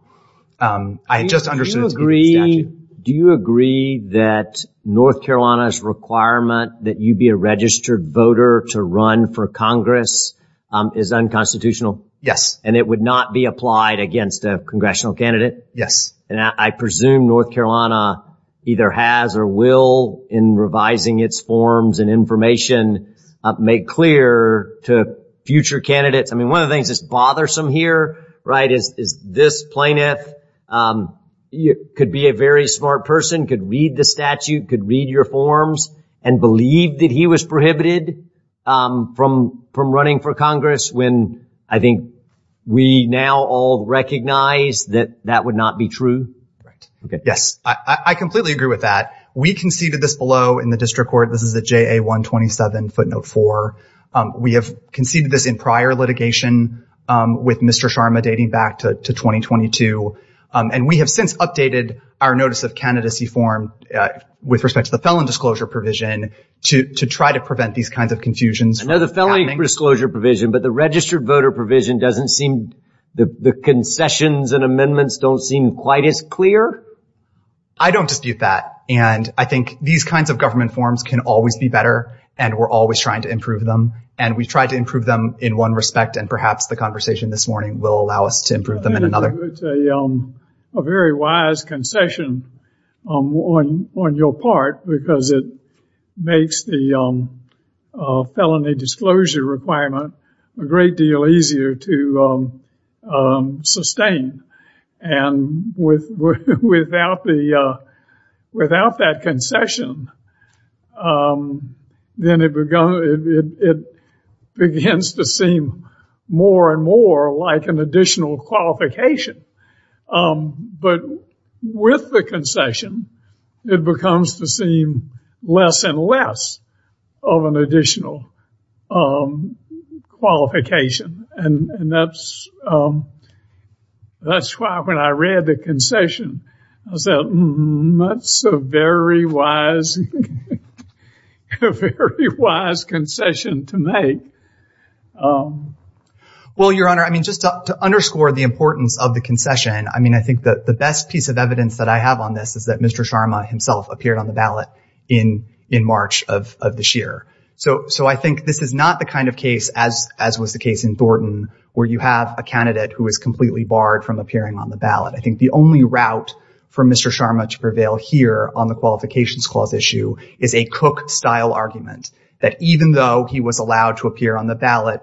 I had just understood it to be the statute. Do you agree that North Carolina's requirement that you be a registered voter to run for Congress is unconstitutional? Yes. And it would not be applied against a congressional candidate? Yes. And I presume North Carolina either has or will, in revising its forms and information, make clear to future candidates. I mean, one of the things that's bothersome here, right, is this plaintiff could be a very smart person, could read the statute, could read your forms, and believe that he was prohibited from running for Congress when I think we now all recognize that that would not be true. Yes, I completely agree with that. We conceded this below in the district court. This is a JA-127 footnote 4. We have conceded this in prior litigation with Mr. Sharma dating back to 2022. And we have since updated our notice of candidacy form with respect to the felon disclosure provision to try to prevent these kinds of confusions. I know the felony disclosure provision, but the registered voter provision doesn't seem, the concessions and amendments don't seem quite as clear? I don't dispute that. And I think these kinds of government forms can always be better and we're always trying to improve them. And we've tried to improve them in one respect. And perhaps the conversation this morning will allow us to improve them in another. It's a very wise concession on your part because it makes the felony disclosure requirement a great deal easier to sustain. And without that concession, then it begins to seem more and more like an additional qualification. But with the concession, it becomes to seem less and less of an additional qualification. And that's why when I read the concession, I said, that's a very wise concession to make. Well, Your Honor, I mean, just to underscore the importance of the concession, I mean, I think that the best piece of evidence that I have on this is that Mr. Sharma himself appeared on the ballot in March of this year. So I think this is not the kind of case as was the case in Thornton, where you have a candidate who is completely barred from appearing on the ballot. I think the only route for Mr. Sharma to prevail here on the qualifications clause issue is a Cook-style argument that even though he was allowed to appear on the ballot,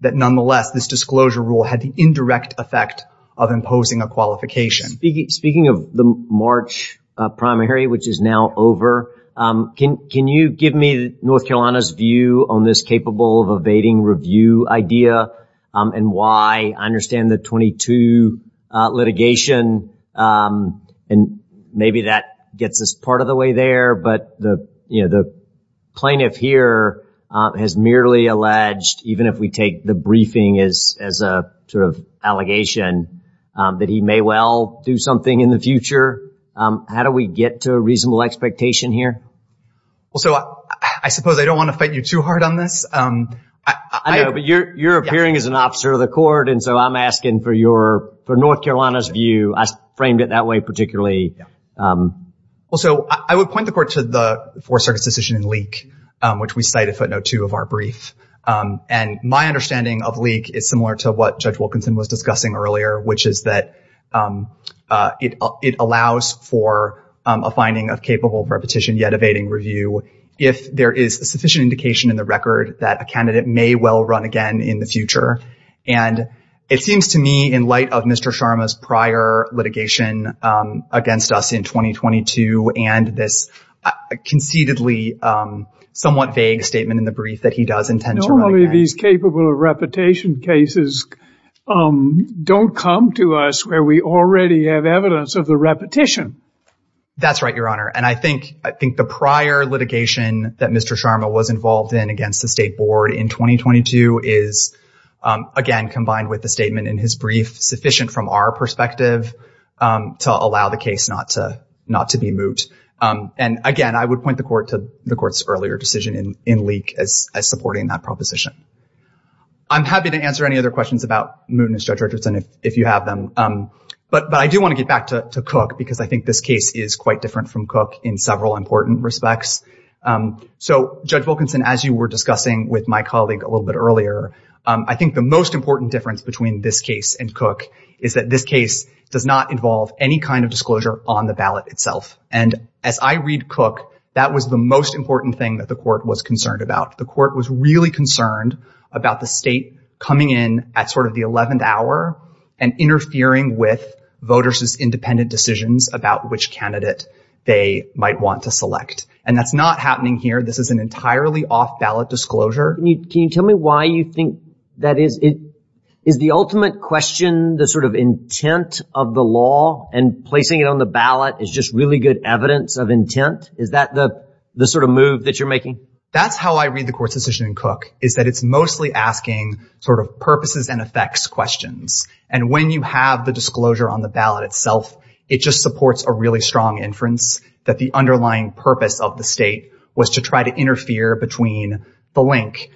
that nonetheless, this disclosure rule had the indirect effect of imposing a qualification. Speaking of the March primary, which is now over, can you give me North Carolina's view on this capable of evading review idea and why I understand the 22 litigation and maybe that gets us part of the way there, but the plaintiff here has merely alleged, even if we take the briefing as a sort of allegation, that he may well do something in the future. How do we get to a reasonable expectation here? Well, so I suppose I don't want to fight you too hard on this. I know, but you're appearing as an officer of the court, and so I'm asking for North Carolina's view. I framed it that way particularly. Well, so I would point the court to the Fourth Circuit's decision in Leek, which we cite at footnote two of our brief. And my understanding of Leek is similar to what Judge Wilkinson was discussing earlier, which is that it allows for a finding of capable of repetition yet evading review if there is sufficient indication in the record that a candidate may well run again in the future. And it seems to me in light of Mr. Sharma's prior litigation against us in 2022 and this concededly somewhat vague statement in the brief that he does intend to run again. Normally these capable of repetition cases don't come to us where we already have evidence of the repetition. That's right, Your Honor. And I think the prior litigation that Mr. Sharma was involved in against the State Board in 2022 is again combined with the statement in his brief sufficient from our perspective to allow the case not to be moot. And again, I would point the court to the court's earlier decision in Leek as supporting that proposition. I'm happy to answer any other questions about mootness, Judge Richardson, if you have them. But I do want to get back to Cook because I think this case is quite different from Cook in several important respects. So Judge Wilkinson, as you were discussing with my colleague a little bit earlier, I think the most important difference between this case and Cook is that this case does not involve any kind of disclosure on the ballot itself. And as I read Cook, that was the most important thing that the court was concerned about. The court was really concerned about the state coming in at sort of the 11th hour and interfering with voters' independent decisions about which candidate they might want to select. And that's not happening here. This is an entirely off-ballot disclosure. Can you tell me why you think that is? Is the ultimate question, the sort of intent of the law and placing it on the ballot is just really good evidence of intent? Is that the sort of move that you're making? That's how I read the court's decision in Cook is that it's mostly asking sort of purposes and effects questions. And when you have the disclosure on the ballot itself, it just supports a really strong inference that the underlying purpose of the state was to try to interfere between the link,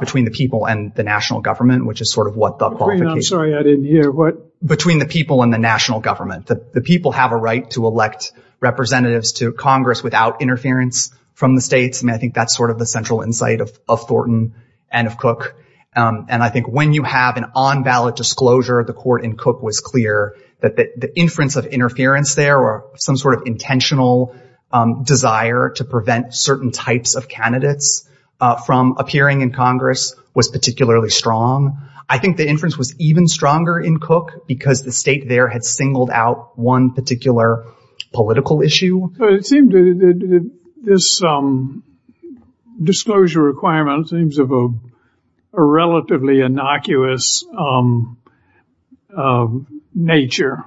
between the people and the national government, which is sort of what the- Green, I'm sorry, I didn't hear. What? Between the people and the national government. The people have a right to elect representatives to Congress without interference from the states. And I think that's sort of the central insight of Thornton and of Cook. And I think when you have an on-ballot disclosure, the court in Cook was clear that the inference of interference there or some sort of intentional desire to prevent certain types of candidates from appearing in Congress was particularly strong. I think the inference was even stronger in Cook because the state there had singled out one particular political issue. It seemed that this disclosure requirement seems of a relatively innocuous nature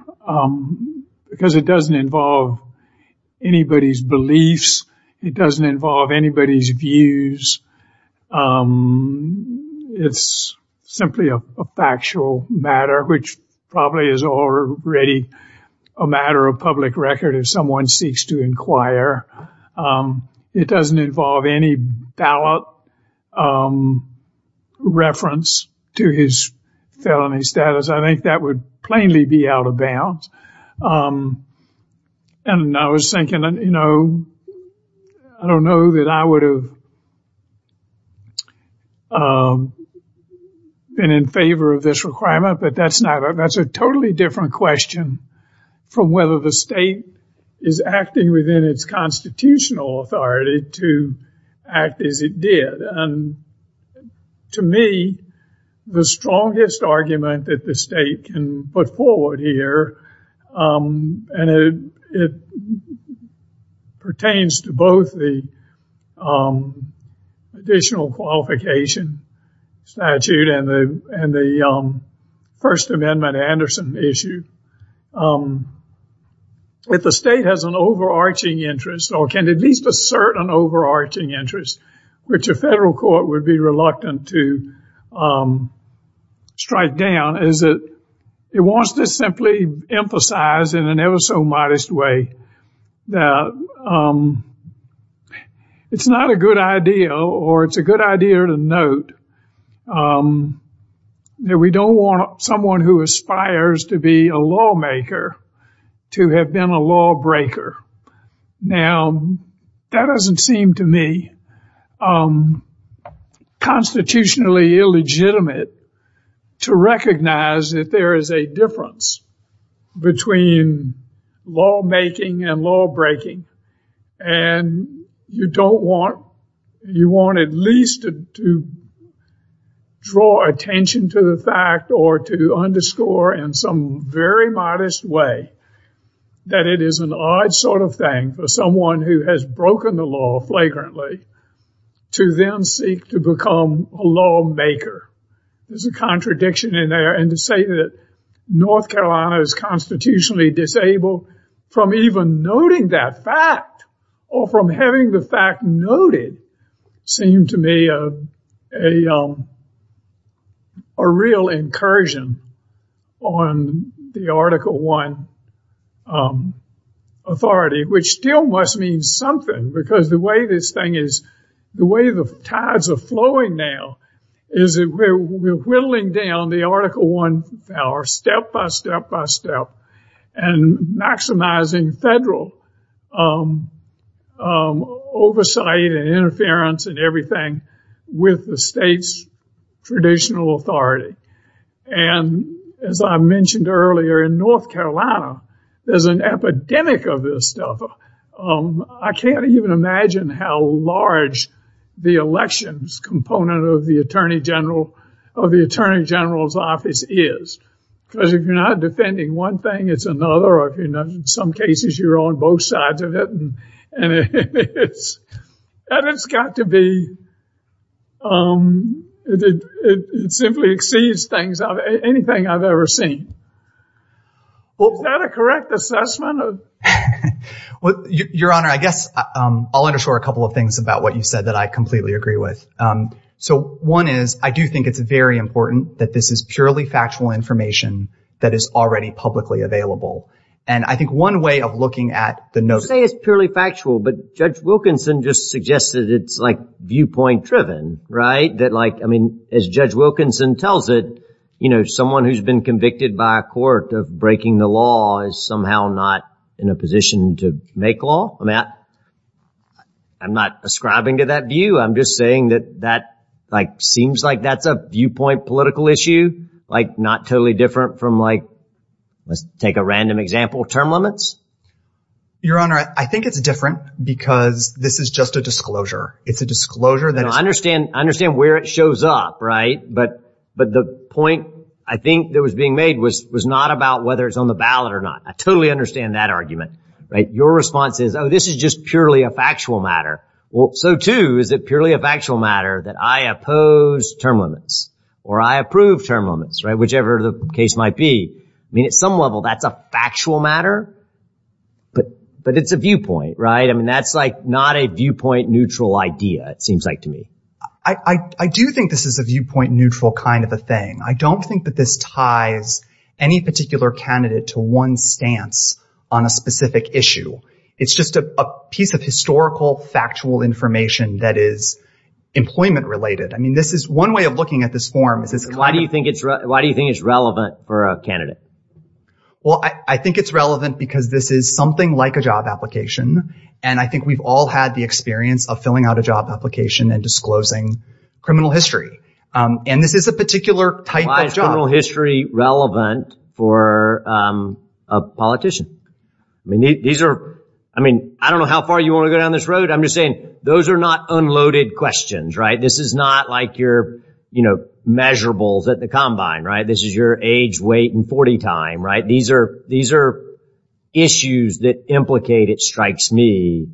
because it doesn't involve anybody's beliefs. It doesn't involve anybody's views. It's simply a factual matter, which probably is already a matter of public record if someone seeks to inquire. It doesn't involve any ballot reference to his felony status. I think that would plainly be out of bounds. And I was thinking, you know, I don't know that I would have been in favor of this requirement, but that's a totally different question from whether the state is acting within its constitutional authority to act as it did. And to me, the strongest argument that the state can put forward here, and it pertains to both the additional qualification statute and the First Amendment Anderson issue. If the state has an overarching interest or can at least assert an overarching interest, which a federal court would be reluctant to strike down, is it wants to simply emphasize in an ever so modest way that it's not a good idea or it's a good idea to note that we don't want someone who aspires to be a lawmaker to have been a lawbreaker. Now, that doesn't seem to me unconstitutionally illegitimate to recognize that there is a difference between lawmaking and lawbreaking. And you don't want, you want at least to draw attention to the fact or to underscore in some very modest way that it is an odd sort of thing for someone who has broken the law flagrantly to then seek to become a lawmaker. There's a contradiction in there. And to say that North Carolina is constitutionally disabled from even noting that fact or from having the fact noted seemed to me a real incursion on the Article I authority, which still must mean something because the way this thing is, the way the tides are flowing now is that we're whittling down the Article I power step by step by step and maximizing federal oversight and interference and everything with the state's traditional authority. And as I mentioned earlier, in North Carolina, there's an epidemic of this stuff. I can't even imagine how large the elections component of the attorney general, of the attorney general's office is. Because if you're not defending one thing, it's another. Or if you're not, in some cases, you're on both sides of it. And it's got to be, it simply exceeds things, anything I've ever seen. Well, is that a correct assessment? No. Well, Your Honor, I guess I'll underscore a couple of things about what you said that I completely agree with. So one is, I do think it's very important that this is purely factual information that is already publicly available. And I think one way of looking at the notion- Say it's purely factual, but Judge Wilkinson just suggested it's like viewpoint driven, right? That like, I mean, as Judge Wilkinson tells it, someone who's been convicted by a court of breaking the law is somehow not in a position to make law. I'm not ascribing to that view. I'm just saying that that like, seems like that's a viewpoint political issue. Like not totally different from like, let's take a random example, term limits. Your Honor, I think it's different because this is just a disclosure. It's a disclosure that- I understand where it shows up, right? But the point I think that was being made was not about whether it's on the ballot or not. I totally understand that argument, right? Your response is, oh, this is just purely a factual matter. Well, so too, is it purely a factual matter that I oppose term limits or I approve term limits, right? Whichever the case might be. I mean, at some level, that's a factual matter, but it's a viewpoint, right? I mean, that's like not a viewpoint neutral idea, it seems like to me. I do think this is a viewpoint neutral kind of a thing. I don't think that this ties any particular candidate to one stance on a specific issue. It's just a piece of historical, factual information that is employment related. I mean, this is one way of looking at this form. Is this- Why do you think it's relevant for a candidate? Well, I think it's relevant because this is something like a job application. And I think we've all had the experience of filling out a job application and disclosing criminal history. And this is a particular type of job. Why is criminal history relevant for a politician? I mean, I don't know how far you want to go down this road. I'm just saying those are not unloaded questions, right? This is not like your measurables at the combine, right? This is your age, weight, and 40 time, right? These are issues that implicate, it strikes me,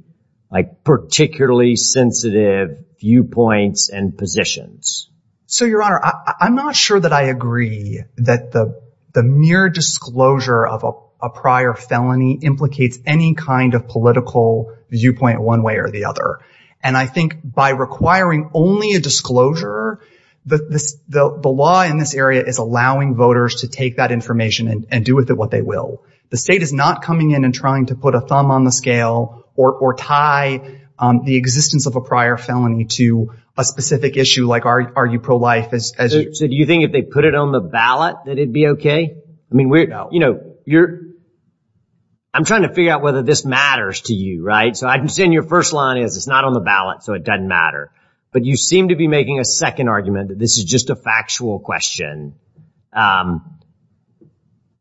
like particularly sensitive viewpoints and positions. So, Your Honor, I'm not sure that I agree that the mere disclosure of a prior felony implicates any kind of political viewpoint one way or the other. And I think by requiring only a disclosure, the law in this area is allowing voters to take that information and do with it what they will. The state is not coming in and trying to put a thumb on the scale or tie the existence of a prior felony to a specific issue like are you pro-life? So, do you think if they put it on the ballot, that it'd be okay? I mean, I'm trying to figure out whether this matters to you, right? So, I understand your first line is it's not on the ballot, so it doesn't matter. But you seem to be making a second argument that this is just a factual question.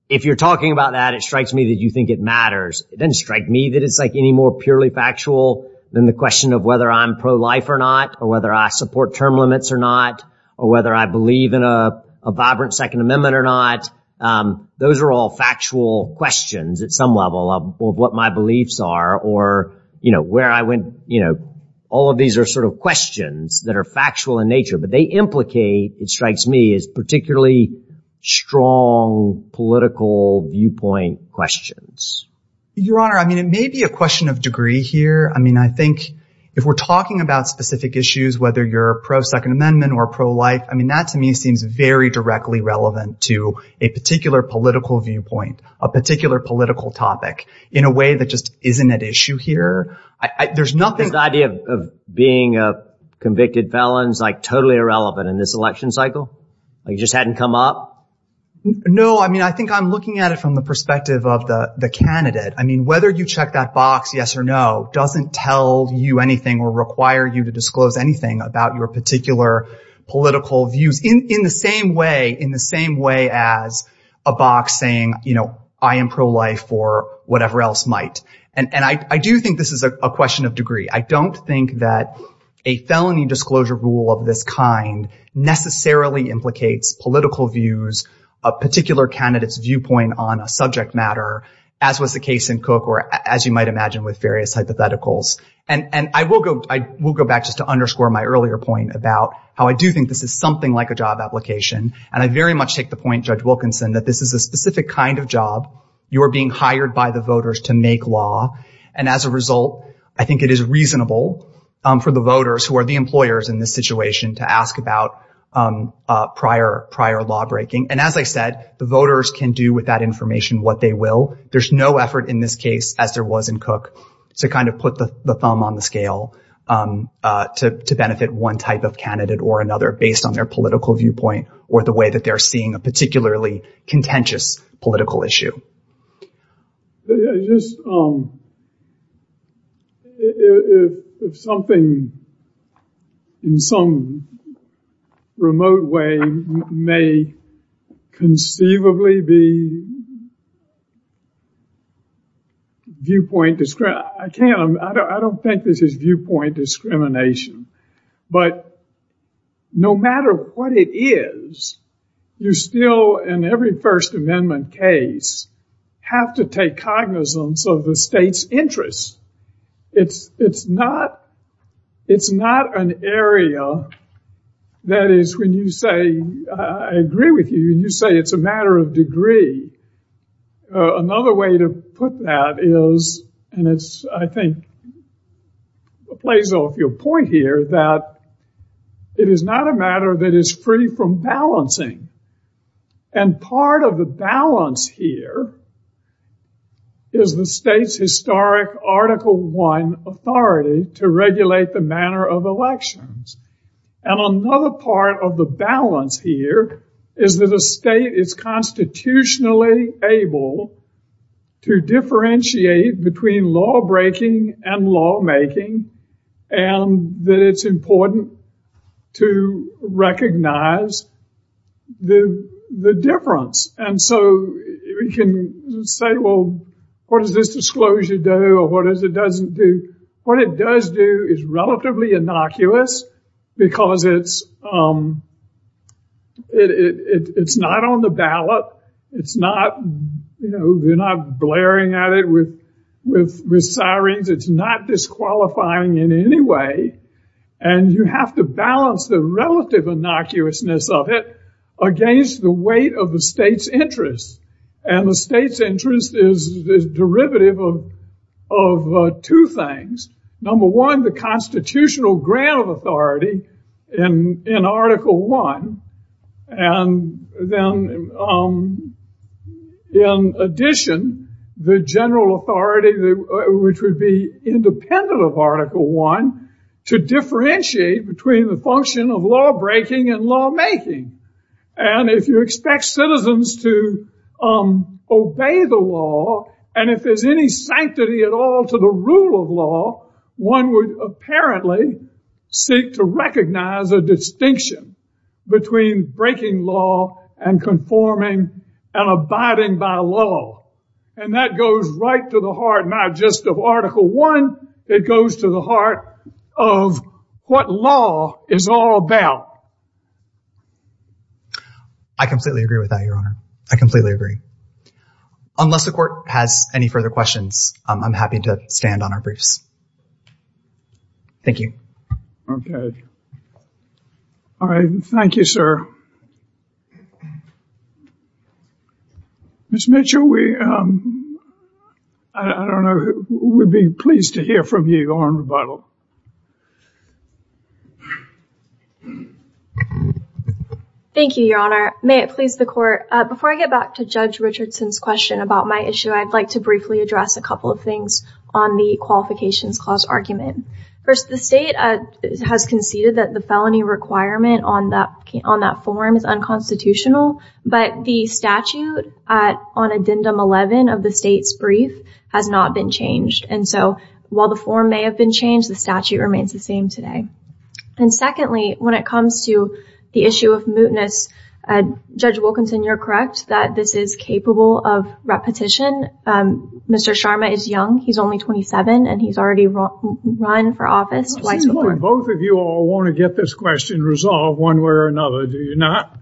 If you're talking about that, it strikes me that you think it matters. It doesn't strike me that it's like any more purely factual than the question of whether I'm pro-life or not or whether I support term limits or not or whether I believe in a vibrant Second Amendment or not. Those are all factual questions at some level of what my beliefs are or where I went. All of these are sort of questions that are factual in nature, but they implicate, it strikes me, as particularly strong political viewpoint questions. Your Honor, I mean, it may be a question of degree here. I think if we're talking about specific issues, whether you're pro-Second Amendment or pro-life, I mean, that, to me, seems very directly relevant to a particular political viewpoint, a particular political topic in a way that just isn't at issue here. There's nothing... This idea of being a convicted felon is totally irrelevant in this election cycle? It just hadn't come up? No, I mean, I think I'm looking at it from the perspective of the candidate. I mean, whether you check that box, yes or no, doesn't tell you anything or require you to disclose anything about your particular political views in the same way as a box saying, you know, I am pro-life or whatever else might. And I do think this is a question of degree. I don't think that a felony disclosure rule of this kind necessarily implicates political views, a particular candidate's viewpoint on a subject matter, as was the case in Cook, as you might imagine with various hypotheticals. And I will go back just to underscore my earlier point about how I do think this is something like a job application. And I very much take the point, Judge Wilkinson, that this is a specific kind of job. You are being hired by the voters to make law. And as a result, I think it is reasonable for the voters who are the employers in this situation to ask about prior law breaking. And as I said, the voters can do with that information what they will. There's no effort in this case, as there was in Cook, to kind of put the thumb on the scale to benefit one type of candidate or another based on their political viewpoint or the way that they're seeing a particularly contentious political issue. I just, if something in some remote way may conceivably be viewpoint, I can't, I don't think this is viewpoint discrimination. But no matter what it is, you're still, in every First Amendment case, have to take cognizance of the state's interests. It's not an area that is, when you say, I agree with you, when you say it's a matter of degree, another way to put that is, and it's, I think, plays off your point here, that it is not a matter that is free from balancing. And part of the balance here is the state's historic Article I authority to regulate the manner of elections. And another part of the balance here is that a state is constitutionally able to differentiate between lawbreaking and lawmaking, and that it's important to recognize the difference. And so we can say, well, what does this disclosure do? Or what does it doesn't do? What it does do is relatively innocuous, because it's not on the ballot. It's not, you know, they're not blaring at it with sirens. It's not disqualifying in any way. And you have to balance the relative innocuousness of it against the weight of the state's interests. And the state's interest is the derivative of two things. Number one, the constitutional grant of authority in Article I. And then, in addition, the general authority, which would be independent of Article I, to differentiate between the function of lawbreaking and lawmaking. And if you expect citizens to obey the law, and if there's any sanctity at all to the rule of law, one would apparently seek to recognize a distinction between breaking law and conforming and abiding by law. And that goes right to the heart, not just of Article I, it goes to the heart of what law is all about. I completely agree with that, Your Honor. I completely agree. Unless the court has any further questions, I'm happy to stand on our briefs. Thank you. Okay. All right. Thank you, sir. Ms. Mitchell, I don't know, we'd be pleased to hear from you on rebuttal. Thank you, Your Honor. May it please the court. Before I get back to Judge Richardson's question about my issue, I'd like to briefly address a couple of things on the qualifications clause argument. First, the state has conceded that the felony requirement on that form is unconstitutional, but the statute on Addendum 11 of the state's brief has not been changed. And so while the form may have been changed, the statute remains the same today. And secondly, when it comes to the issue of mootness, Judge Wilkinson, you're correct that this is capable of repetition. Mr. Sharma is young, he's only 27, and he's already run for office twice before. Both of you all want to get this question resolved one way or another, do you not?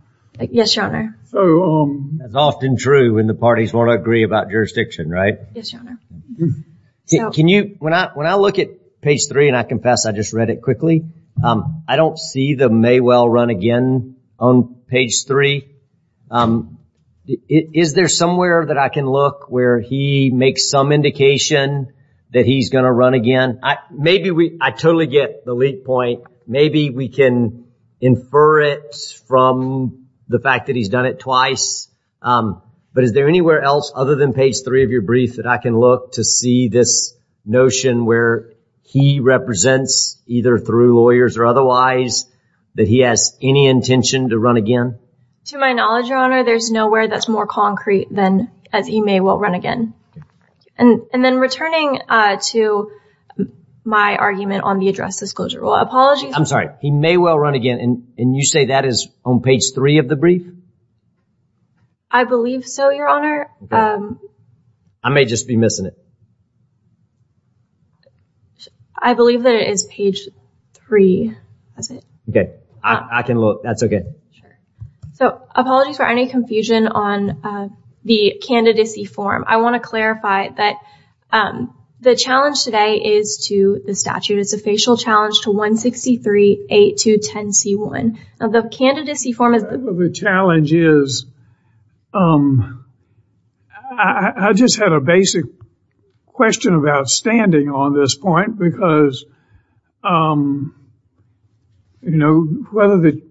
Yes, Your Honor. So... That's often true when the parties want to agree about jurisdiction, right? Yes, Your Honor. Can you, when I look at page three, and I confess I just read it quickly, I don't see the may well run again on page three. Is there somewhere that I can look where he makes some indication that he's going to run again? Maybe we... I totally get the lead point. Maybe we can infer it from the fact that he's done it twice. But is there anywhere else other than page three of your brief that I can look to see this notion where he represents, either through lawyers or otherwise, that he has any intention to run again? To my knowledge, Your Honor, there's nowhere that's more concrete than as he may well run again. And then returning to my argument on the address disclosure rule, apologies... I'm sorry, he may well run again, and you say that is on page three of the brief? I believe so, Your Honor. I may just be missing it. I believe that it is page three, is it? Okay, I can look, that's okay. So apologies for any confusion on the candidacy form. I want to clarify that the challenge today is to the statute. It's a facial challenge to 163-8210C1. Now, the candidacy form is... Part of the challenge is... I just had a basic question of outstanding on this point because whether the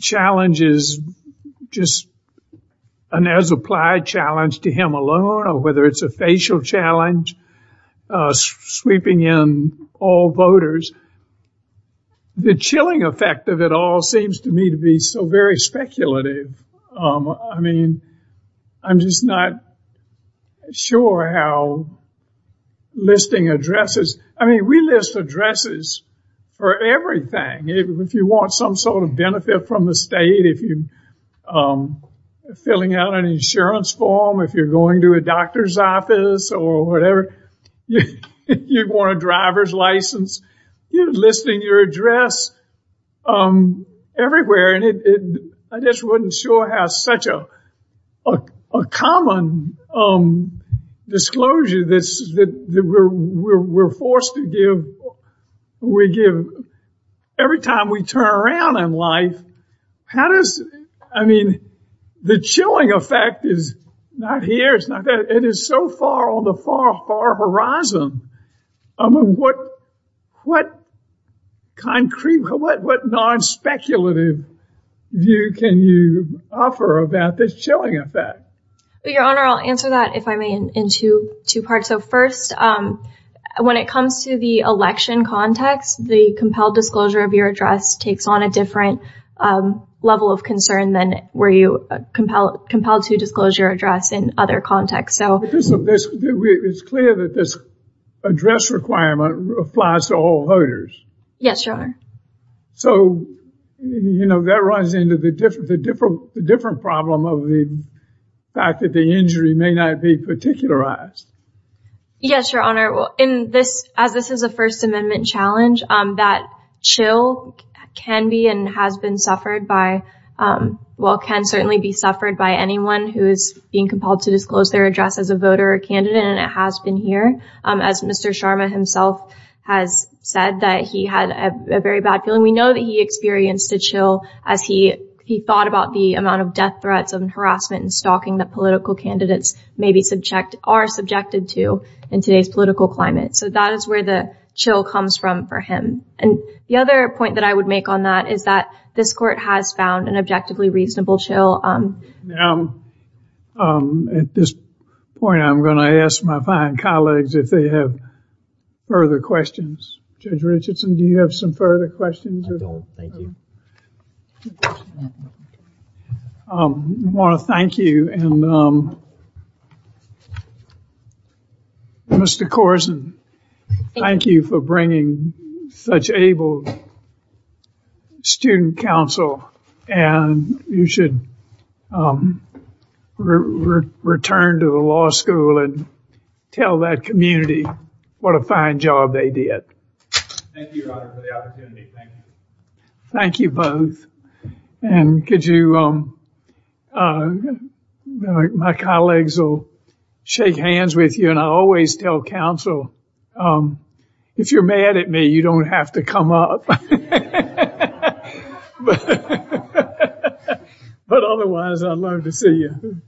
challenge is just an as-applied challenge to him alone or whether it's a facial challenge sweeping in all voters, the chilling effect of it all seems to me to be so very speculative. I mean, I'm just not sure how listing addresses... I mean, we list addresses for everything. If you want some sort of benefit from the state, if you're filling out an insurance form, if you're going to a doctor's office or whatever, you want a driver's license, you're listing your address everywhere. And I just wasn't sure how such a common disclosure this is that we're forced to give. Every time we turn around in life, how does... I mean, the chilling effect is not here. It's not there. It is so far on the far, far horizon. I mean, what concrete... What non-speculative view can you offer about this chilling effect? Your Honor, I'll answer that if I may in two parts. So first, when it comes to the election context, the compelled disclosure of your address takes on a different level of concern than were you compelled to disclose your address in other contexts. It's clear that this address requirement applies to all voters. Yes, Your Honor. So that runs into the different problem of the fact that the injury may not be particularized. Yes, Your Honor. In this, as this is a First Amendment challenge, that chill can be and has been suffered by, well, can certainly be suffered by anyone who is being compelled to disclose their address as a voter or candidate, and it has been here. As Mr. Sharma himself has said, that he had a very bad feeling. We know that he experienced a chill as he thought about the amount of death threats and harassment and stalking that political candidates maybe are subjected to in today's political climate. So that is where the chill comes from for him. And the other point that I would make on that is that this court has found an objectively reasonable chill. At this point, I'm going to ask my fine colleagues if they have further questions. Judge Richardson, do you have some further questions? I don't, thank you. I want to thank you. And Mr. Corzine, thank you for bringing such able student counsel. And you should return to the law school and tell that community what a fine job they did. Thank you, Your Honor, for the opportunity. Thank you. Thank you both. And could you, my colleagues will shake hands with you. And I always tell counsel, if you're mad at me, you don't have to come up. But otherwise, I'd love to see you.